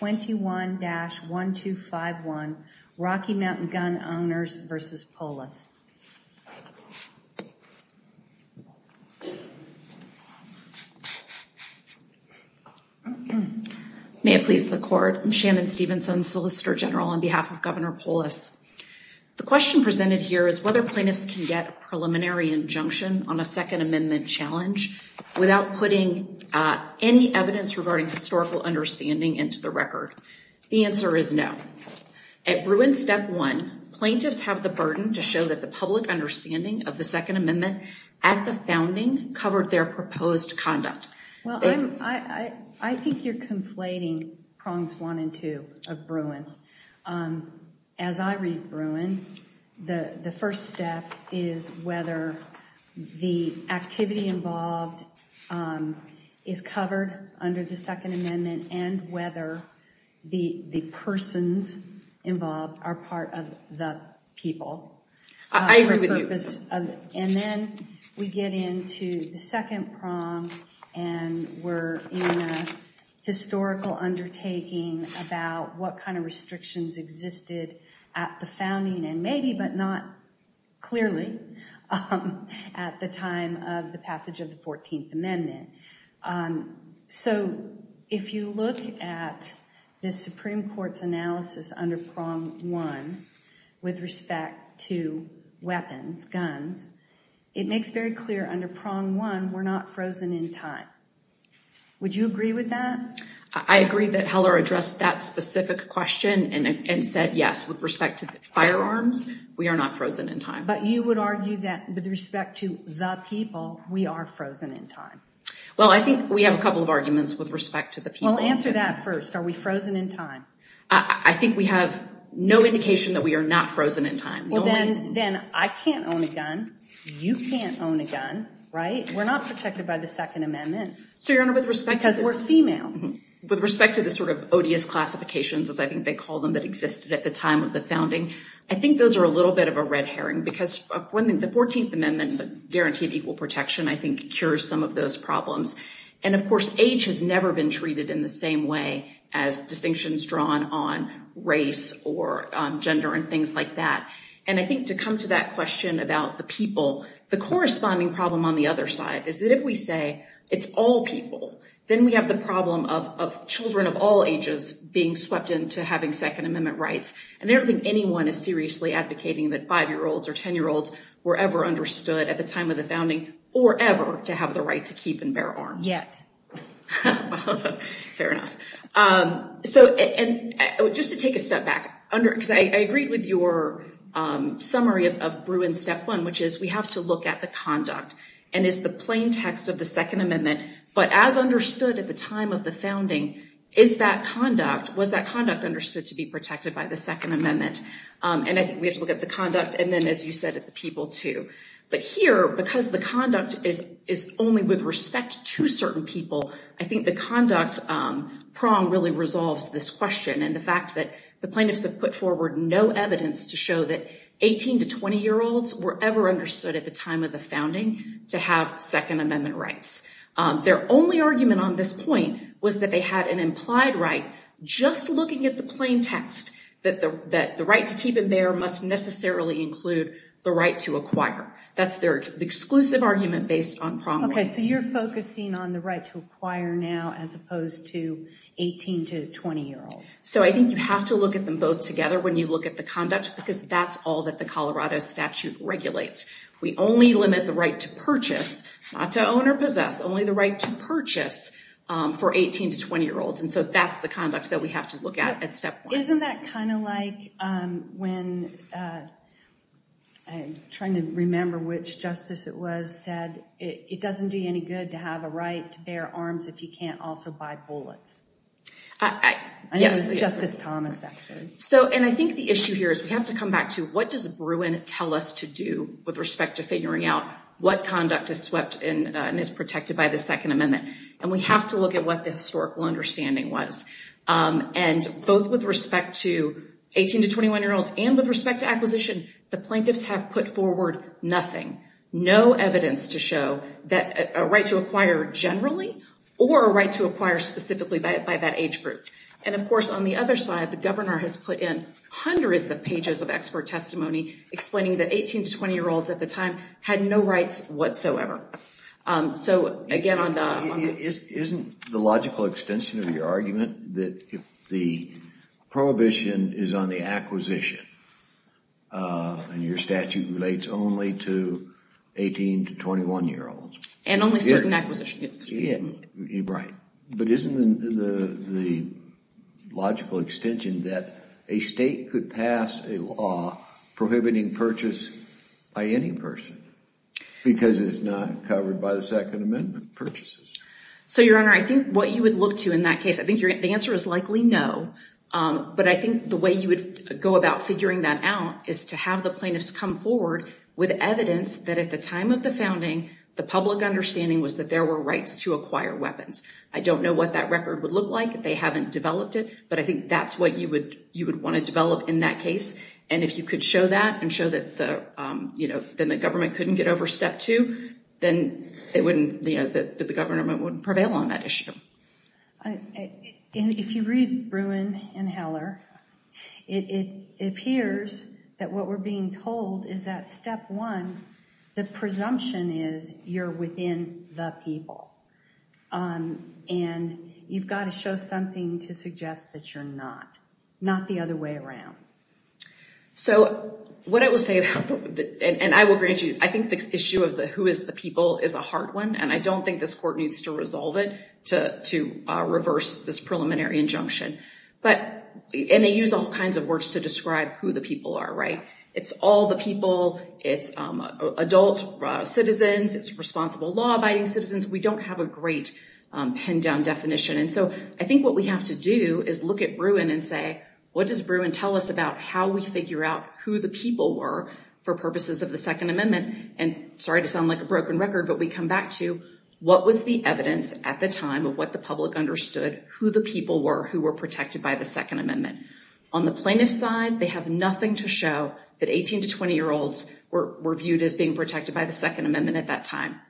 21-1251 Rocky Mountain Gun Owners v. Polis. May it please the court. I'm Shannon Stevenson, Solicitor General on behalf of Governor Polis. The question presented here is whether plaintiffs can get a preliminary injunction on a Second Amendment challenge without putting any evidence regarding historical understanding into the record. The answer is no. At Bruin Step 1, plaintiffs have the burden to show that the public understanding of the Second Amendment at the founding covered their proposed conduct. I think you're conflating prongs one and two of Bruin. As I read Bruin, the first step is whether the activity involved is covered under the the persons involved are part of the people. I agree with you. And then we get into the second prong and we're in a historical undertaking about what kind of restrictions existed at the founding and maybe but not clearly at the time of the passage of the 14th Amendment. So, if you look at the Supreme Court's analysis under prong one with respect to weapons, guns, it makes very clear under prong one we're not frozen in time. Would you agree with that? I agree that Heller addressed that specific question and said yes. With respect to firearms, we are not frozen in time. But you would argue that with respect to the people, we are frozen in time. Well, I think we have a couple of arguments with respect to the people. Well, answer that first. Are we frozen in time? I think we have no indication that we are not frozen in time. Well, then I can't own a gun. You can't own a gun, right? We're not protected by the Second Amendment because we're female. With respect to the sort of odious classifications, as I think they call them, that existed at the time of the founding, I think those are a little bit of a red herring because the 14th Amendment, the guarantee of equal protection, I think cures some of those problems. And of course, age has never been treated in the same way as distinctions drawn on race or gender and things like that. And I think to come to that question about the people, the corresponding problem on the other side is that if we say it's all people, then we have the problem of children of all different rights. And I don't think anyone is seriously advocating that 5-year-olds or 10-year-olds were ever understood at the time of the founding or ever to have the right to keep and bear arms. Yet. Fair enough. So, and just to take a step back, because I agreed with your summary of Bruin's step one, which is we have to look at the conduct. And it's the plain text of the Second Amendment. But as understood at the time of the founding, is that conduct, was that conduct understood to be protected by the Second Amendment? And I think we have to look at the conduct and then, as you said, at the people, too. But here, because the conduct is only with respect to certain people, I think the conduct prong really resolves this question and the fact that the plaintiffs have put forward no evidence to show that 18- to 20-year-olds were ever understood at the time of the founding to have Second Amendment rights. Their only argument on this point was that they had an implied right, just looking at the plain text, that the right to keep and bear must necessarily include the right to acquire. That's their exclusive argument based on prong. Okay, so you're focusing on the right to acquire now as opposed to 18- to 20-year-olds. So I think you have to look at them both together when you look at the conduct, because that's all that the Colorado statute regulates. We only limit the right to purchase, not to own or possess, only the right to purchase for 18- to 20-year-olds. And so that's the conduct that we have to look at at step one. Isn't that kind of like when, I'm trying to remember which justice it was, said it doesn't do you any good to have a right to bear arms if you can't also buy bullets? I know it was Justice Thomas, actually. So and I think the issue here is we have to come back to what does Bruin tell us to do with respect to figuring out what conduct is swept in and is protected by the Second Amendment? And we have to look at what the historical understanding was. And both with respect to 18- to 21-year-olds and with respect to acquisition, the plaintiffs have put forward nothing, no evidence to show that a right to acquire generally or a right to acquire specifically by that age group. And of course, on the other side, the governor has put in hundreds of pages of expert testimony explaining that 18- to 20-year-olds at the time had no rights whatsoever. So again, on the... Isn't the logical extension of your argument that if the prohibition is on the acquisition and your statute relates only to 18- to 21-year-olds? And only certain acquisitions. Right. But isn't the logical extension that a state could pass a law prohibiting purchase by any person because it's not covered by the Second Amendment purchases? So Your Honor, I think what you would look to in that case, I think the answer is likely no. But I think the way you would go about figuring that out is to have the plaintiffs come forward with evidence that at the time of the founding, the public understanding was that there were rights to acquire weapons. I don't know what that record would look like. They haven't developed it. But I think that's what you would want to develop in that case. And if you could show that and show that the government couldn't get over step two, then it wouldn't... That the government wouldn't prevail on that issue. If you read Bruin and Heller, it appears that what we're being told is that step one, the presumption is you're within the people and you've got to show something to suggest that you're not, not the other way around. So what I will say, and I will grant you, I think this issue of the who is the people is a hard one and I don't think this court needs to resolve it to reverse this preliminary injunction. But, and they use all kinds of words to describe who the people are, right? It's all the people, it's adult citizens, it's responsible law abiding citizens. We don't have a great pen down definition. And so I think what we have to do is look at Bruin and say, what does Bruin tell us about how we figure out who the people were for purposes of the second amendment? And sorry to sound like a broken record, but we come back to what was the evidence at the time of what the public understood, who the people were, who were protected by the second amendment. On the plaintiff's side, they have nothing to show that 18 to 20 year olds were viewed as being protected by the second amendment at that time.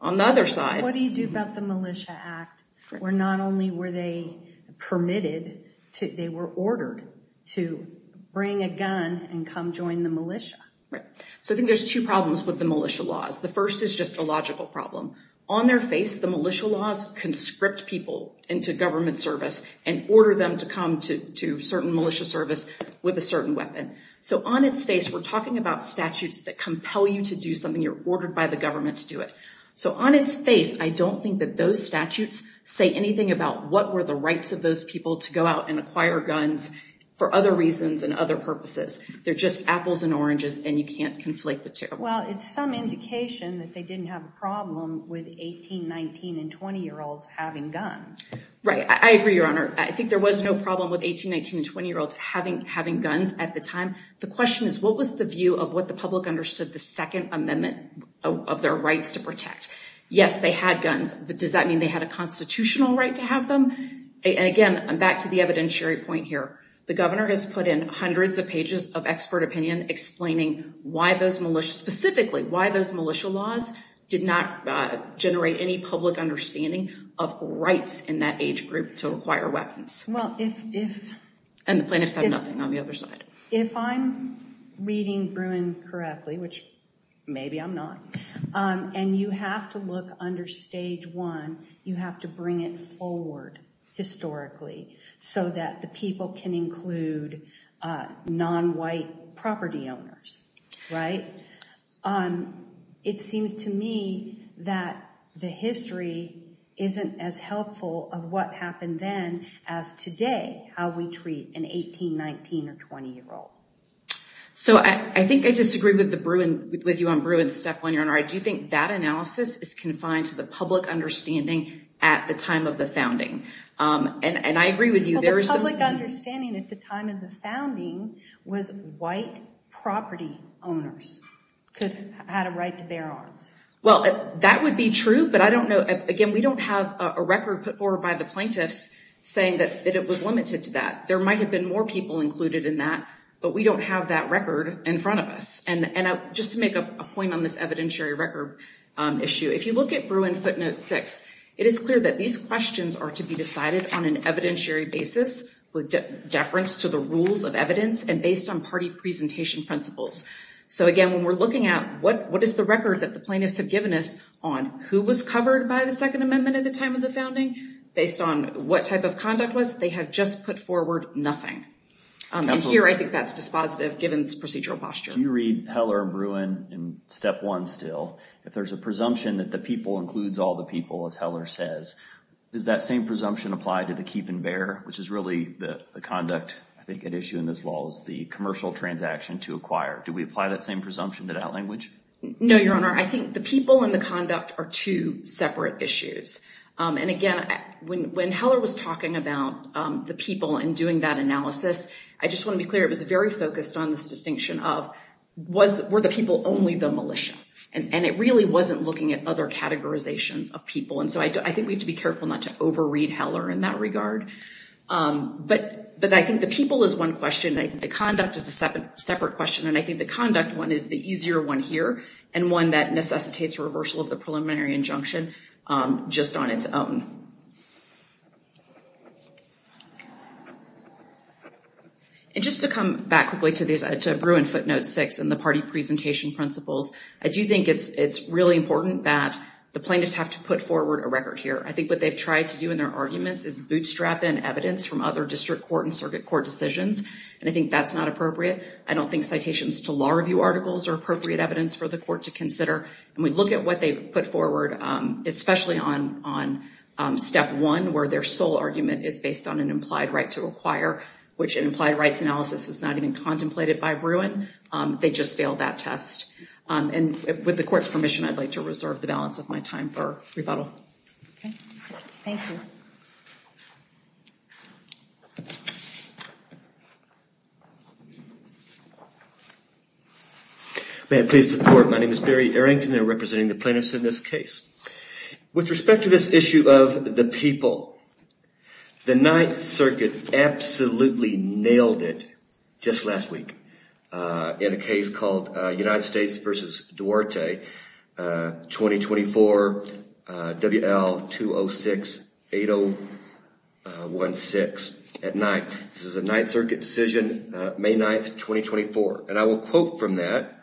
On the other side... What do you do about the Militia Act? Where not only were they permitted, they were ordered to bring a gun and come join the Militia. Right. So I think there's two problems with the Militia laws. The first is just a logical problem. On their face, the Militia laws conscript people into government service and order them to come to certain Militia service with a certain weapon. So on its face, we're talking about statutes that compel you to do something, you're ordered by the government to do it. So on its face, I don't think that those statutes say anything about what were the rights of those people to go out and acquire guns for other reasons and other purposes. They're just apples and oranges and you can't conflate the two. Well, it's some indication that they didn't have a problem with 18, 19, and 20 year olds having guns. Right. I agree, Your Honor. I think there was no problem with 18, 19, and 20 year olds having guns at the time. The question is, what was the view of what the public understood the second amendment of their rights to protect? Yes, they had guns, but does that mean they had a constitutional right to have them? And again, I'm back to the evidentiary point here. The governor has put in hundreds of pages of expert opinion explaining why those Militia, specifically why those Militia laws did not generate any public understanding of rights in that age group to acquire weapons. Well, if... And the plaintiffs have nothing on the other side. If I'm reading Bruin correctly, which maybe I'm not, and you have to look under stage one, you have to bring it forward historically so that the people can include non-white property owners, right? It seems to me that the history isn't as helpful of what happened then as today, how we treat an 18, 19, or 20 year old. So I think I disagree with you on Bruin's step one, Your Honor. I do think that analysis is confined to the public understanding at the time of the founding. And I agree with you, there is some... Well, the public understanding at the time of the founding was white property owners had a right to bear arms. Well, that would be true, but I don't know. Again, we don't have a record put forward by the plaintiffs saying that it was limited to that. There might have been more people included in that, but we don't have that record in front of us. And just to make a point on this evidentiary record issue, if you look at Bruin footnote six, it is clear that these questions are to be decided on an evidentiary basis with deference to the rules of evidence and based on party presentation principles. So again, when we're looking at what is the record that the plaintiffs have given us on who was covered by the second amendment at the time of the founding, based on what type of conduct was, they have just put forward nothing. And here, I think that's dispositive given this procedural posture. Can you read Heller and Bruin in step one still? If there's a presumption that the people includes all the people, as Heller says, is that same presumption applied to the keep and bear, which is really the conduct, I think, at issue in this law is the commercial transaction to acquire. Do we apply that same presumption to that language? No, Your Honor. I think the people and the conduct are two separate issues. And again, when Heller was talking about the people and doing that analysis, I just want to be clear, it was very focused on this distinction of, were the people only the militia? And it really wasn't looking at other categorizations of people. And so I think we have to be careful not to overread Heller in that regard. But I think the people is one question, and I think the conduct is a separate question. And I think the conduct one is the easier one here and one that necessitates reversal of the preliminary injunction just on its own. And just to come back quickly to Bruin footnote six and the party presentation principles, I do think it's really important that the plaintiffs have to put forward a record here. I think what they've tried to do in their arguments is bootstrap in evidence from other district court and circuit court decisions, and I think that's not appropriate. I don't think citations to law review articles are appropriate evidence for the court to put forward, especially on step one, where their sole argument is based on an implied right to require, which an implied rights analysis is not even contemplated by Bruin. They just failed that test. And with the court's permission, I'd like to reserve the balance of my time for rebuttal. Thank you. May I please report, my name is Barry Errington, and I'm representing the plaintiffs in this case. With respect to this issue of the people, the Ninth Circuit absolutely nailed it just last week in a case called United States v. Duarte, 2024, WL-206-8016 at night. This is a Ninth Circuit decision, May 9th, 2024. And I will quote from that,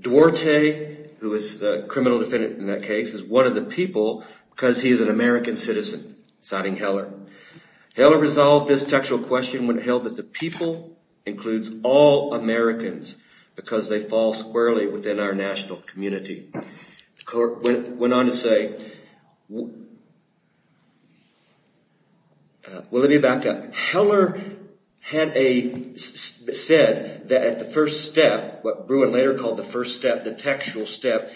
Duarte, who is the criminal defendant in that case, is one of the people because he is an American citizen, citing Heller. Heller resolved this textual question when he held that the people includes all Americans because they fall squarely within our national community. The court went on to say, well, let me back up. Heller had said that at the first step, what Bruin later called the first step, the textual step,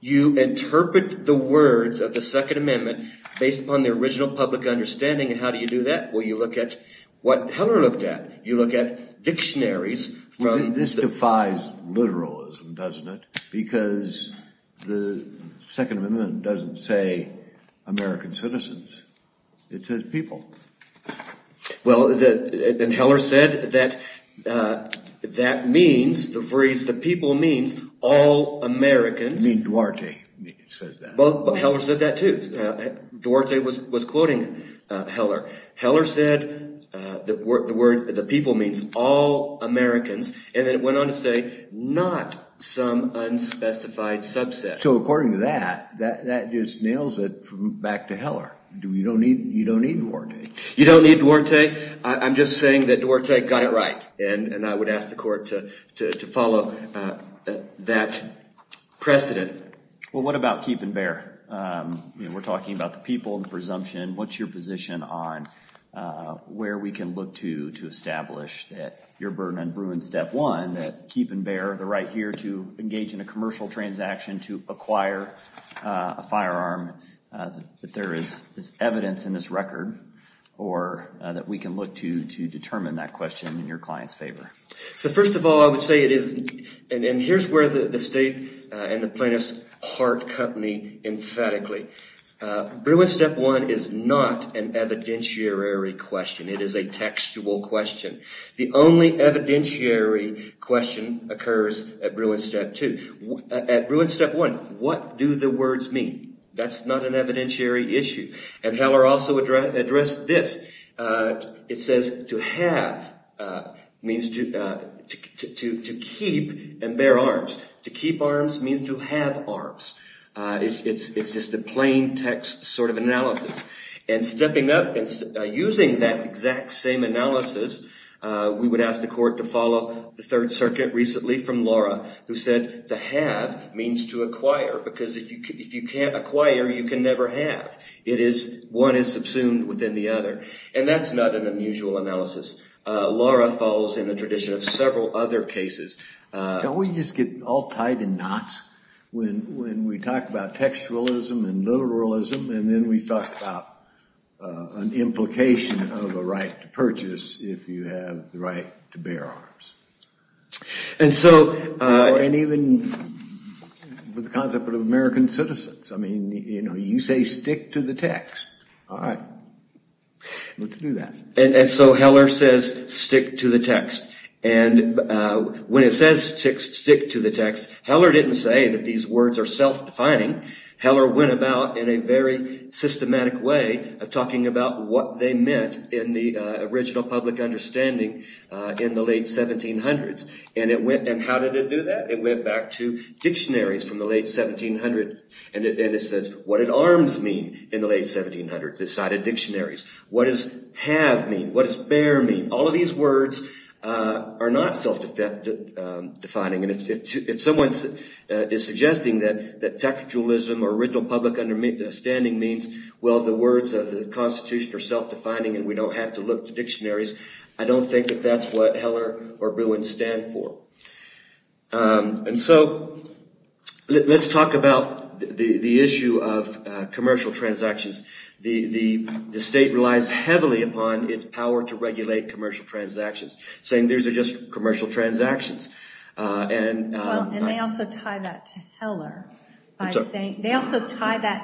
you interpret the words of the Second Amendment based upon the original public understanding. And how do you do that? Well, you look at what Heller looked at. You look at dictionaries from... This defies literalism, doesn't it? Because the Second Amendment doesn't say American citizens, it says people. Well, and Heller said that that means, the phrase, the people means all Americans. Duarte says that. Heller said that too. Duarte was quoting Heller. Heller said the word, the people means all Americans. And then it went on to say, not some unspecified subset. So according to that, that just nails it back to Heller. You don't need Duarte. You don't need Duarte. I'm just saying that Duarte got it right. And I would ask the court to follow that precedent. Well, what about keep and bear? We're talking about the people, the presumption. What's your position on where we can look to to establish that your burden on Bruins step one, that keep and bear, the right here to engage in a commercial transaction, to acquire a firearm, that there is evidence in this record, or that we can look to to determine that question in your client's favor? So first of all, I would say it is... And here's where the state and the plaintiff's heart company emphatically. Bruins step one is not an evidentiary question. It is a textual question. The only evidentiary question occurs at Bruins step two. At Bruins step one, what do the words mean? That's not an evidentiary issue. And Heller also addressed this. It says to have means to keep and bear arms. To keep arms means to have arms. It's just a plain text sort of analysis. And stepping up and using that exact same analysis, we would ask the court to follow the Third Circuit recently from Laura, who said to have means to acquire. Because if you can't acquire, you can never have. It is... One is subsumed within the other. And that's not an unusual analysis. Laura follows in the tradition of several other cases. Don't we just get all tied in knots when we talk about textualism and literalism, and then we talk about an implication of a right to purchase if you have the right to bear arms? And so... And even with the concept of American citizens. I mean, you know, you say stick to the text. All right. Let's do that. And so Heller says stick to the text. And when it says stick to the text, Heller didn't say that these words are self-defining. Heller went about in a very systematic way of talking about what they meant in the original public understanding in the late 1700s. And it went... And how did it do that? It went back to dictionaries from the late 1700s. And it says what did arms mean in the late 1700s? Decided dictionaries. What does have mean? What does bear mean? All of these words are not self-defining. And if someone is suggesting that textualism or original public understanding means, well, the words of the Constitution are self-defining and we don't have to look to dictionaries, I don't think that that's what Heller or Bruin stand for. And so let's talk about the issue of commercial transactions. The state relies heavily upon its power to regulate commercial transactions, saying these are just commercial transactions. And they also tie that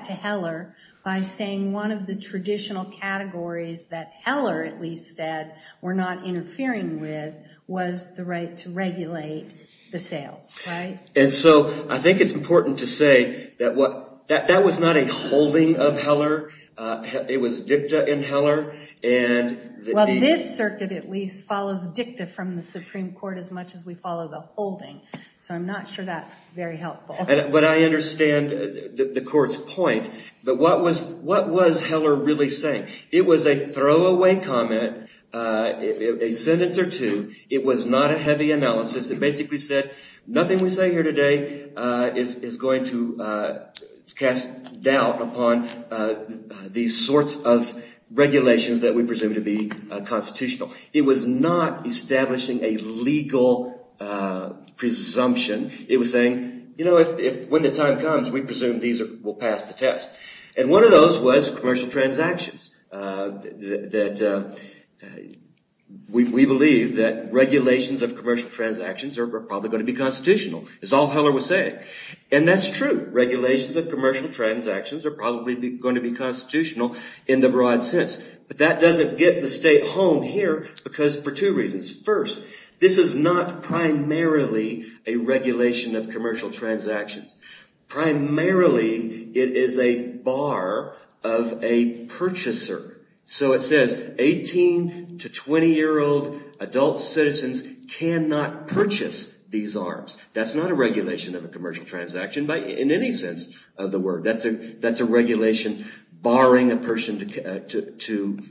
to Heller by saying one of the traditional categories that Heller at least said we're not interfering with was the right to regulate the sales, right? And so I think it's important to say that that was not a holding of Heller. It was dicta in Heller, and... Well, this circuit at least follows dicta from the Supreme Court as much as we follow the holding. So I'm not sure that's very helpful. But I understand the court's point. But what was Heller really saying? It was a throwaway comment, a sentence or two. It was not a heavy analysis. It basically said nothing we say here today is going to cast doubt upon these sorts of regulations that we presume to be constitutional. It was not establishing a legal presumption. It was saying, you know, if when the time comes, we presume these will pass the test. And one of those was commercial transactions, that we believe that regulations of commercial transactions are probably going to be constitutional, is all Heller was saying. And that's true. Regulations of commercial transactions are probably going to be constitutional in the broad sense. But that doesn't get the state home here because for two reasons. First, this is not primarily a regulation of commercial transactions. Primarily, it is a bar of a purchaser. So it says 18 to 20-year-old adult citizens cannot purchase these arms. That's not a regulation of a commercial transaction in any sense of the word. That's a regulation barring a person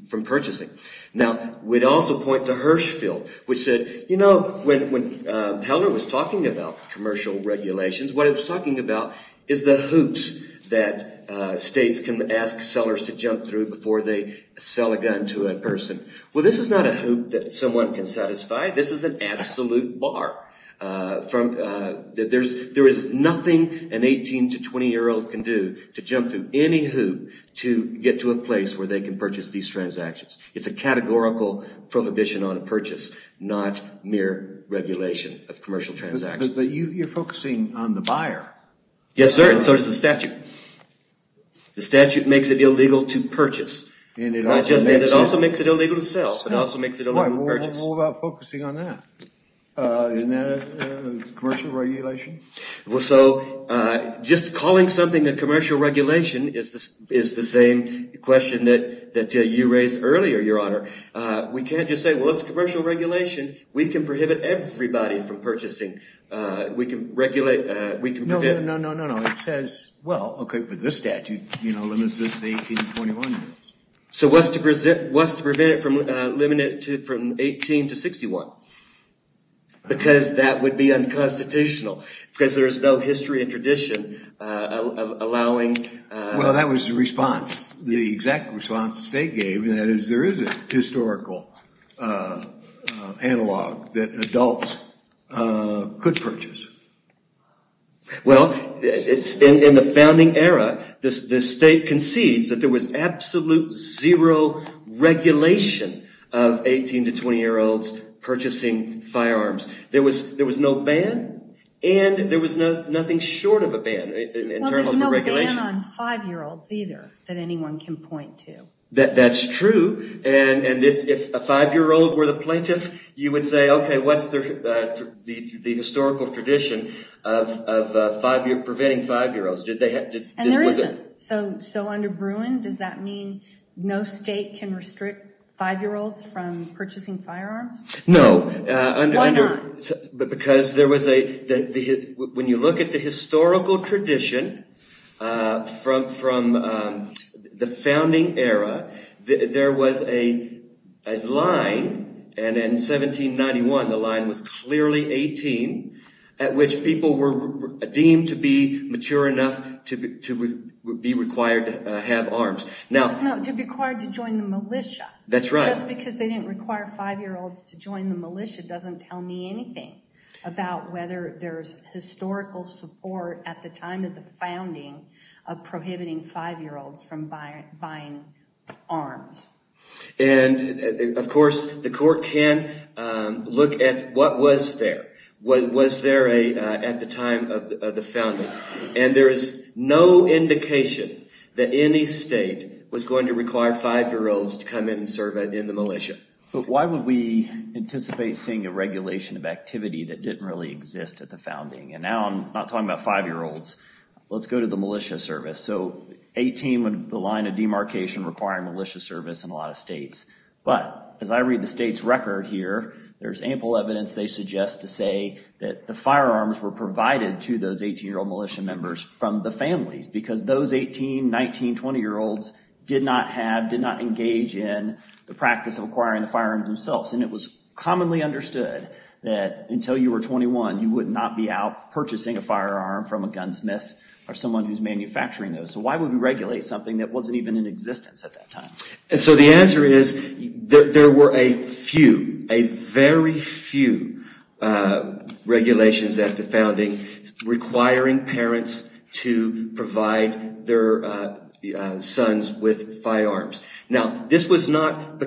from purchasing. Now we'd also point to Hirschfeld, which said, you know, when Heller was talking about commercial transactions and regulations, what he was talking about is the hoops that states can ask sellers to jump through before they sell a gun to a person. Well, this is not a hoop that someone can satisfy. This is an absolute bar. There is nothing an 18 to 20-year-old can do to jump through any hoop to get to a place where they can purchase these transactions. It's a categorical prohibition on purchase, not mere regulation of commercial transactions. But you're focusing on the buyer. Yes, sir. And so does the statute. The statute makes it illegal to purchase. And it also makes it illegal to sell. It also makes it illegal to purchase. Well, what about focusing on that? Isn't that a commercial regulation? Well, so just calling something a commercial regulation is the same question that you raised earlier, Your Honor. We can't just say, well, it's a commercial regulation. We can prohibit everybody from purchasing. We can regulate. We can prevent. No, no, no, no, no. It says, well, OK, but this statute limits it to 18 to 21 years. So what's to prevent it from limiting it from 18 to 61? Because that would be unconstitutional. Because there is no history and tradition of allowing. Well, that was the response, the exact response the state gave. There is a historical analog that adults could purchase. Well, in the founding era, the state concedes that there was absolute zero regulation of 18 to 20-year-olds purchasing firearms. There was no ban. And there was nothing short of a ban in terms of a regulation. Well, there's no ban on five-year-olds, either, that anyone can point to. That's true. And if a five-year-old were the plaintiff, you would say, OK, what's the historical tradition of preventing five-year-olds? And there isn't. So under Bruin, does that mean no state can restrict five-year-olds from purchasing firearms? No. Why not? Because when you look at the historical tradition from the founding era, there was a line. And in 1791, the line was clearly 18, at which people were deemed to be mature enough to be required to have arms. No, to be required to join the militia. That's right. Just because they didn't require five-year-olds to join the militia doesn't tell me anything about whether there's historical support at the time of the founding of prohibiting five-year-olds from buying arms. And of course, the court can't look at what was there. Was there at the time of the founding? And there is no indication that any state was going to require five-year-olds to come in and serve in the militia. But why would we anticipate seeing a regulation of activity that didn't really exist at the founding? And now I'm not talking about five-year-olds. Let's go to the militia service. So 18 would be the line of demarcation requiring militia service in a lot of states. But as I read the state's record here, there's ample evidence they suggest to say that the firearms were provided to those 18-year-old militia members from the families. Because those 18, 19, 20-year-olds did not have, did not engage in the practice of acquiring the firearms themselves. And it was commonly understood that until you were 21, you would not be out purchasing a firearm from a gunsmith or someone who's manufacturing those. So why would we regulate something that wasn't even in existence at that time? And so the answer is there were a few, a very few regulations at the founding requiring parents to provide their sons with firearms. Now, this was not,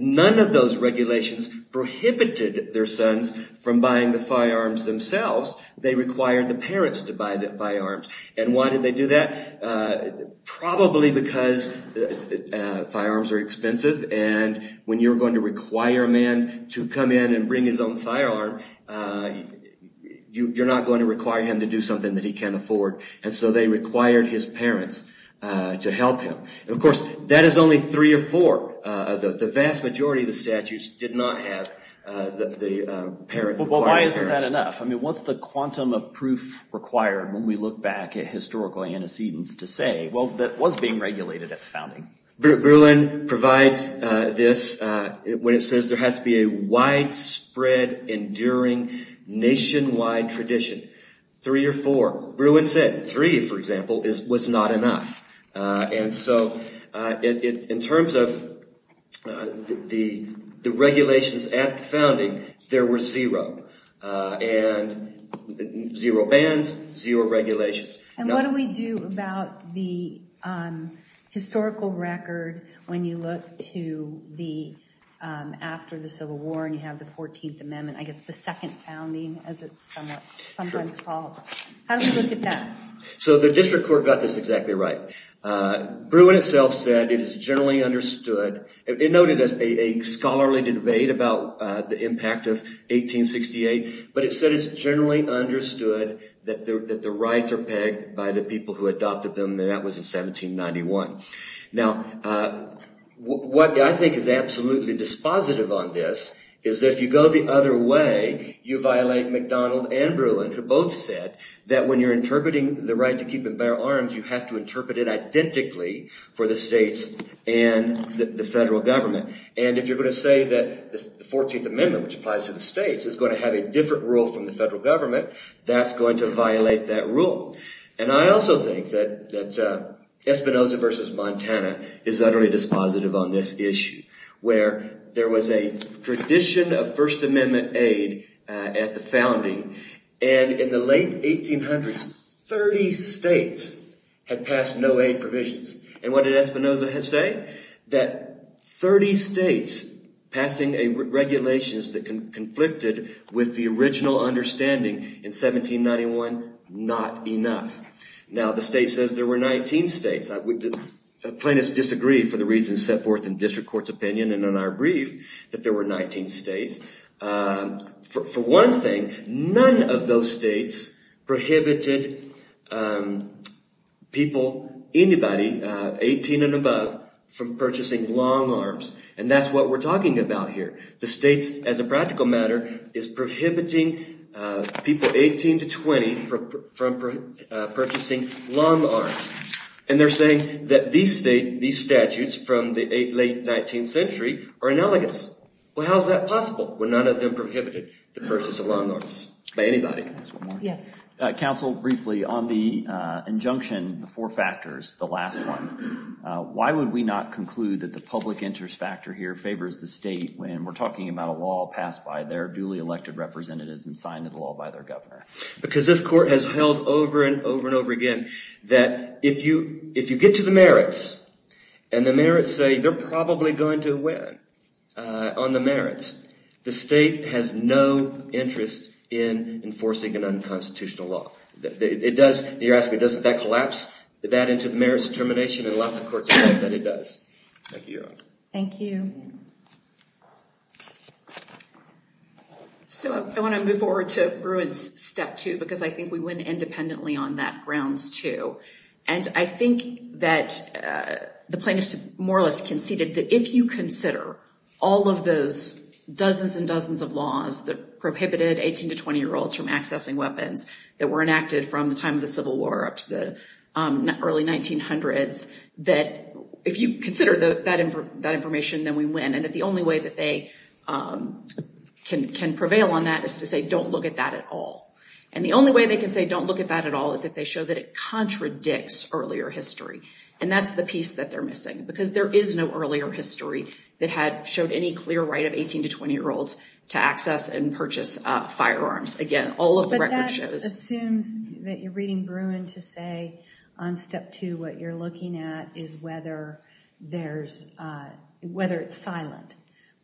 none of those regulations prohibited their sons from buying the firearms themselves. They required the parents to buy the firearms. And why did they do that? Probably because firearms are expensive. And when you're going to require a man to come in and bring his own firearm, you're not going to require him to do something that he can't afford. And so they required his parents to help him. And of course, that is only three or four of those. But the vast majority of the statutes did not have the parent requiring parents. Well, why isn't that enough? I mean, what's the quantum of proof required when we look back at historical antecedents to say, well, that was being regulated at the founding? Bruin provides this when it says there has to be a widespread, enduring, nationwide tradition. Three or four. Bruin said three, for example, was not enough. And so in terms of the regulations at the founding, there were zero. And zero bans, zero regulations. And what do we do about the historical record when you look to after the Civil War and you have the 14th Amendment, I guess the second founding, as it's sometimes called? How do we look at that? So the district court got this exactly right. Bruin itself said it is generally understood. It noted a scholarly debate about the impact of 1868. But it said it's generally understood that the rights are pegged by the people who adopted them. And that was in 1791. Now, what I think is absolutely dispositive on this is that if you go the other way, you violate MacDonald and Bruin, who both said that when you're interpreting the right to keep and bear arms, you have to interpret it identically for the states and the federal government. And if you're going to say that the 14th Amendment, which applies to the states, is going to have a different rule from the federal government, that's going to violate that rule. And I also think that Espinoza versus Montana is utterly dispositive on this issue, where there was a tradition of First Amendment aid at the founding. And in the late 1800s, 30 states had passed no-aid provisions. And what did Espinoza say? That 30 states passing regulations that conflicted with the original understanding in 1791, not enough. Now, the state says there were 19 states. Plaintiffs disagree for the reasons set forth in district court's opinion and in our brief that there were 19 states. For one thing, none of those states prohibited people, anybody, 18 and above, from purchasing long arms. And that's what we're talking about here. The states, as a practical matter, is prohibiting people 18 to 20 from purchasing long arms. And they're saying that these statutes from the late 19th century are analogous. Well, how is that possible when none of them prohibited the purchase of long arms by anybody? Counsel, briefly, on the injunction, the four factors, the last one, why would we not conclude that the public interest factor here favors the state when we're talking about a law passed by their duly elected representatives and signed into law by their governor? Because this court has held over and over and over again that if you get to the merits, and the merits say they're probably going to win on the merits, the state has no interest in enforcing an unconstitutional law. You're asking, doesn't that collapse that into the merits of termination? And lots of courts have said that it does. Thank you, Your Honor. Thank you. So I want to move forward to Bruin's step two, because I think we win independently on that grounds, too. And I think that the plaintiffs more or less conceded that if you consider all of those dozens and dozens of laws that prohibited 18- to 20-year-olds from accessing weapons that were enacted from the time of the Civil War up to the early 1900s, that if you consider that information, then we win. And that the only way that they can prevail on that is to say, don't look at that at all. And the only way they can say, don't look at that at all, is if they show that it contradicts earlier history. And that's the piece that they're missing, because there is no earlier history that had showed any clear right of 18- to 20-year-olds to access and purchase firearms. Again, all of the record shows. But that assumes that you're reading Bruin to say, on step two, what you're looking at is whether it's silent.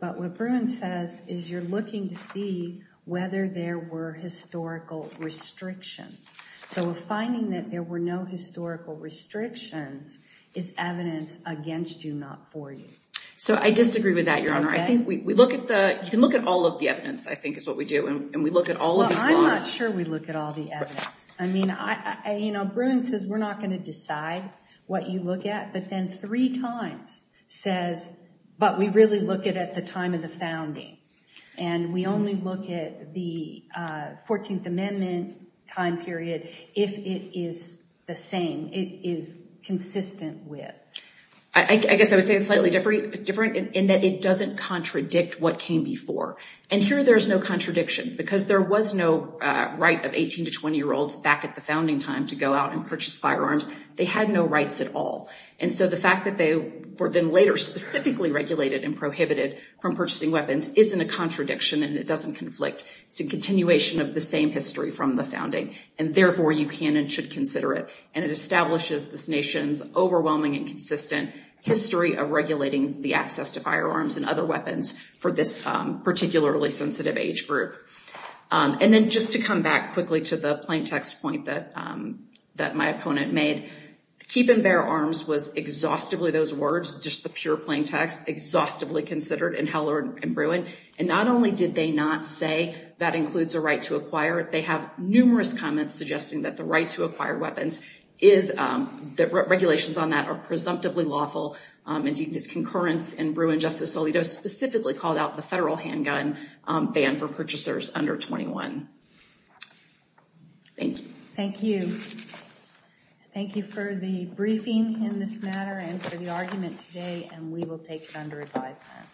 But what Bruin says is you're looking to see whether there were historical restrictions. So a finding that there were no historical restrictions is evidence against you, not for you. So I disagree with that, Your Honor. You can look at all of the evidence, I think, is what we do. And we look at all of his laws. Well, I'm not sure we look at all the evidence. I mean, Bruin says we're not going to decide what you look at. But then three times says, but we really look at it at the time of the founding. And we only look at the 14th Amendment time period if it is the same, it is consistent with. I guess I would say it's slightly different in that it doesn't contradict what came before. And here, there is no contradiction, because there was no right of 18- to 20-year-olds back at the founding time to go out and purchase firearms. They had no rights at all. And so the fact that they were then later specifically regulated and prohibited from purchasing weapons isn't a contradiction, and it doesn't conflict. It's a continuation of the same history from the founding. And therefore, you can and should consider it. And it establishes this nation's overwhelming and consistent history of regulating the access to firearms and other weapons for this particularly sensitive age group. And then just to come back quickly to the plain text point that my opponent made, keep and bear arms was exhaustively those words, just the pure plain text, exhaustively considered in Heller and Bruin. And not only did they not say that includes a right to acquire it, they have numerous comments suggesting that the right to acquire weapons is that regulations on that are presumptively lawful. Indeed, this concurrence in Bruin, Justice Alito specifically called out the federal handgun ban for purchasers under 21. Thank you. Thank you. Thank you for the briefing in this matter and for the argument today. And we will take it under advisement.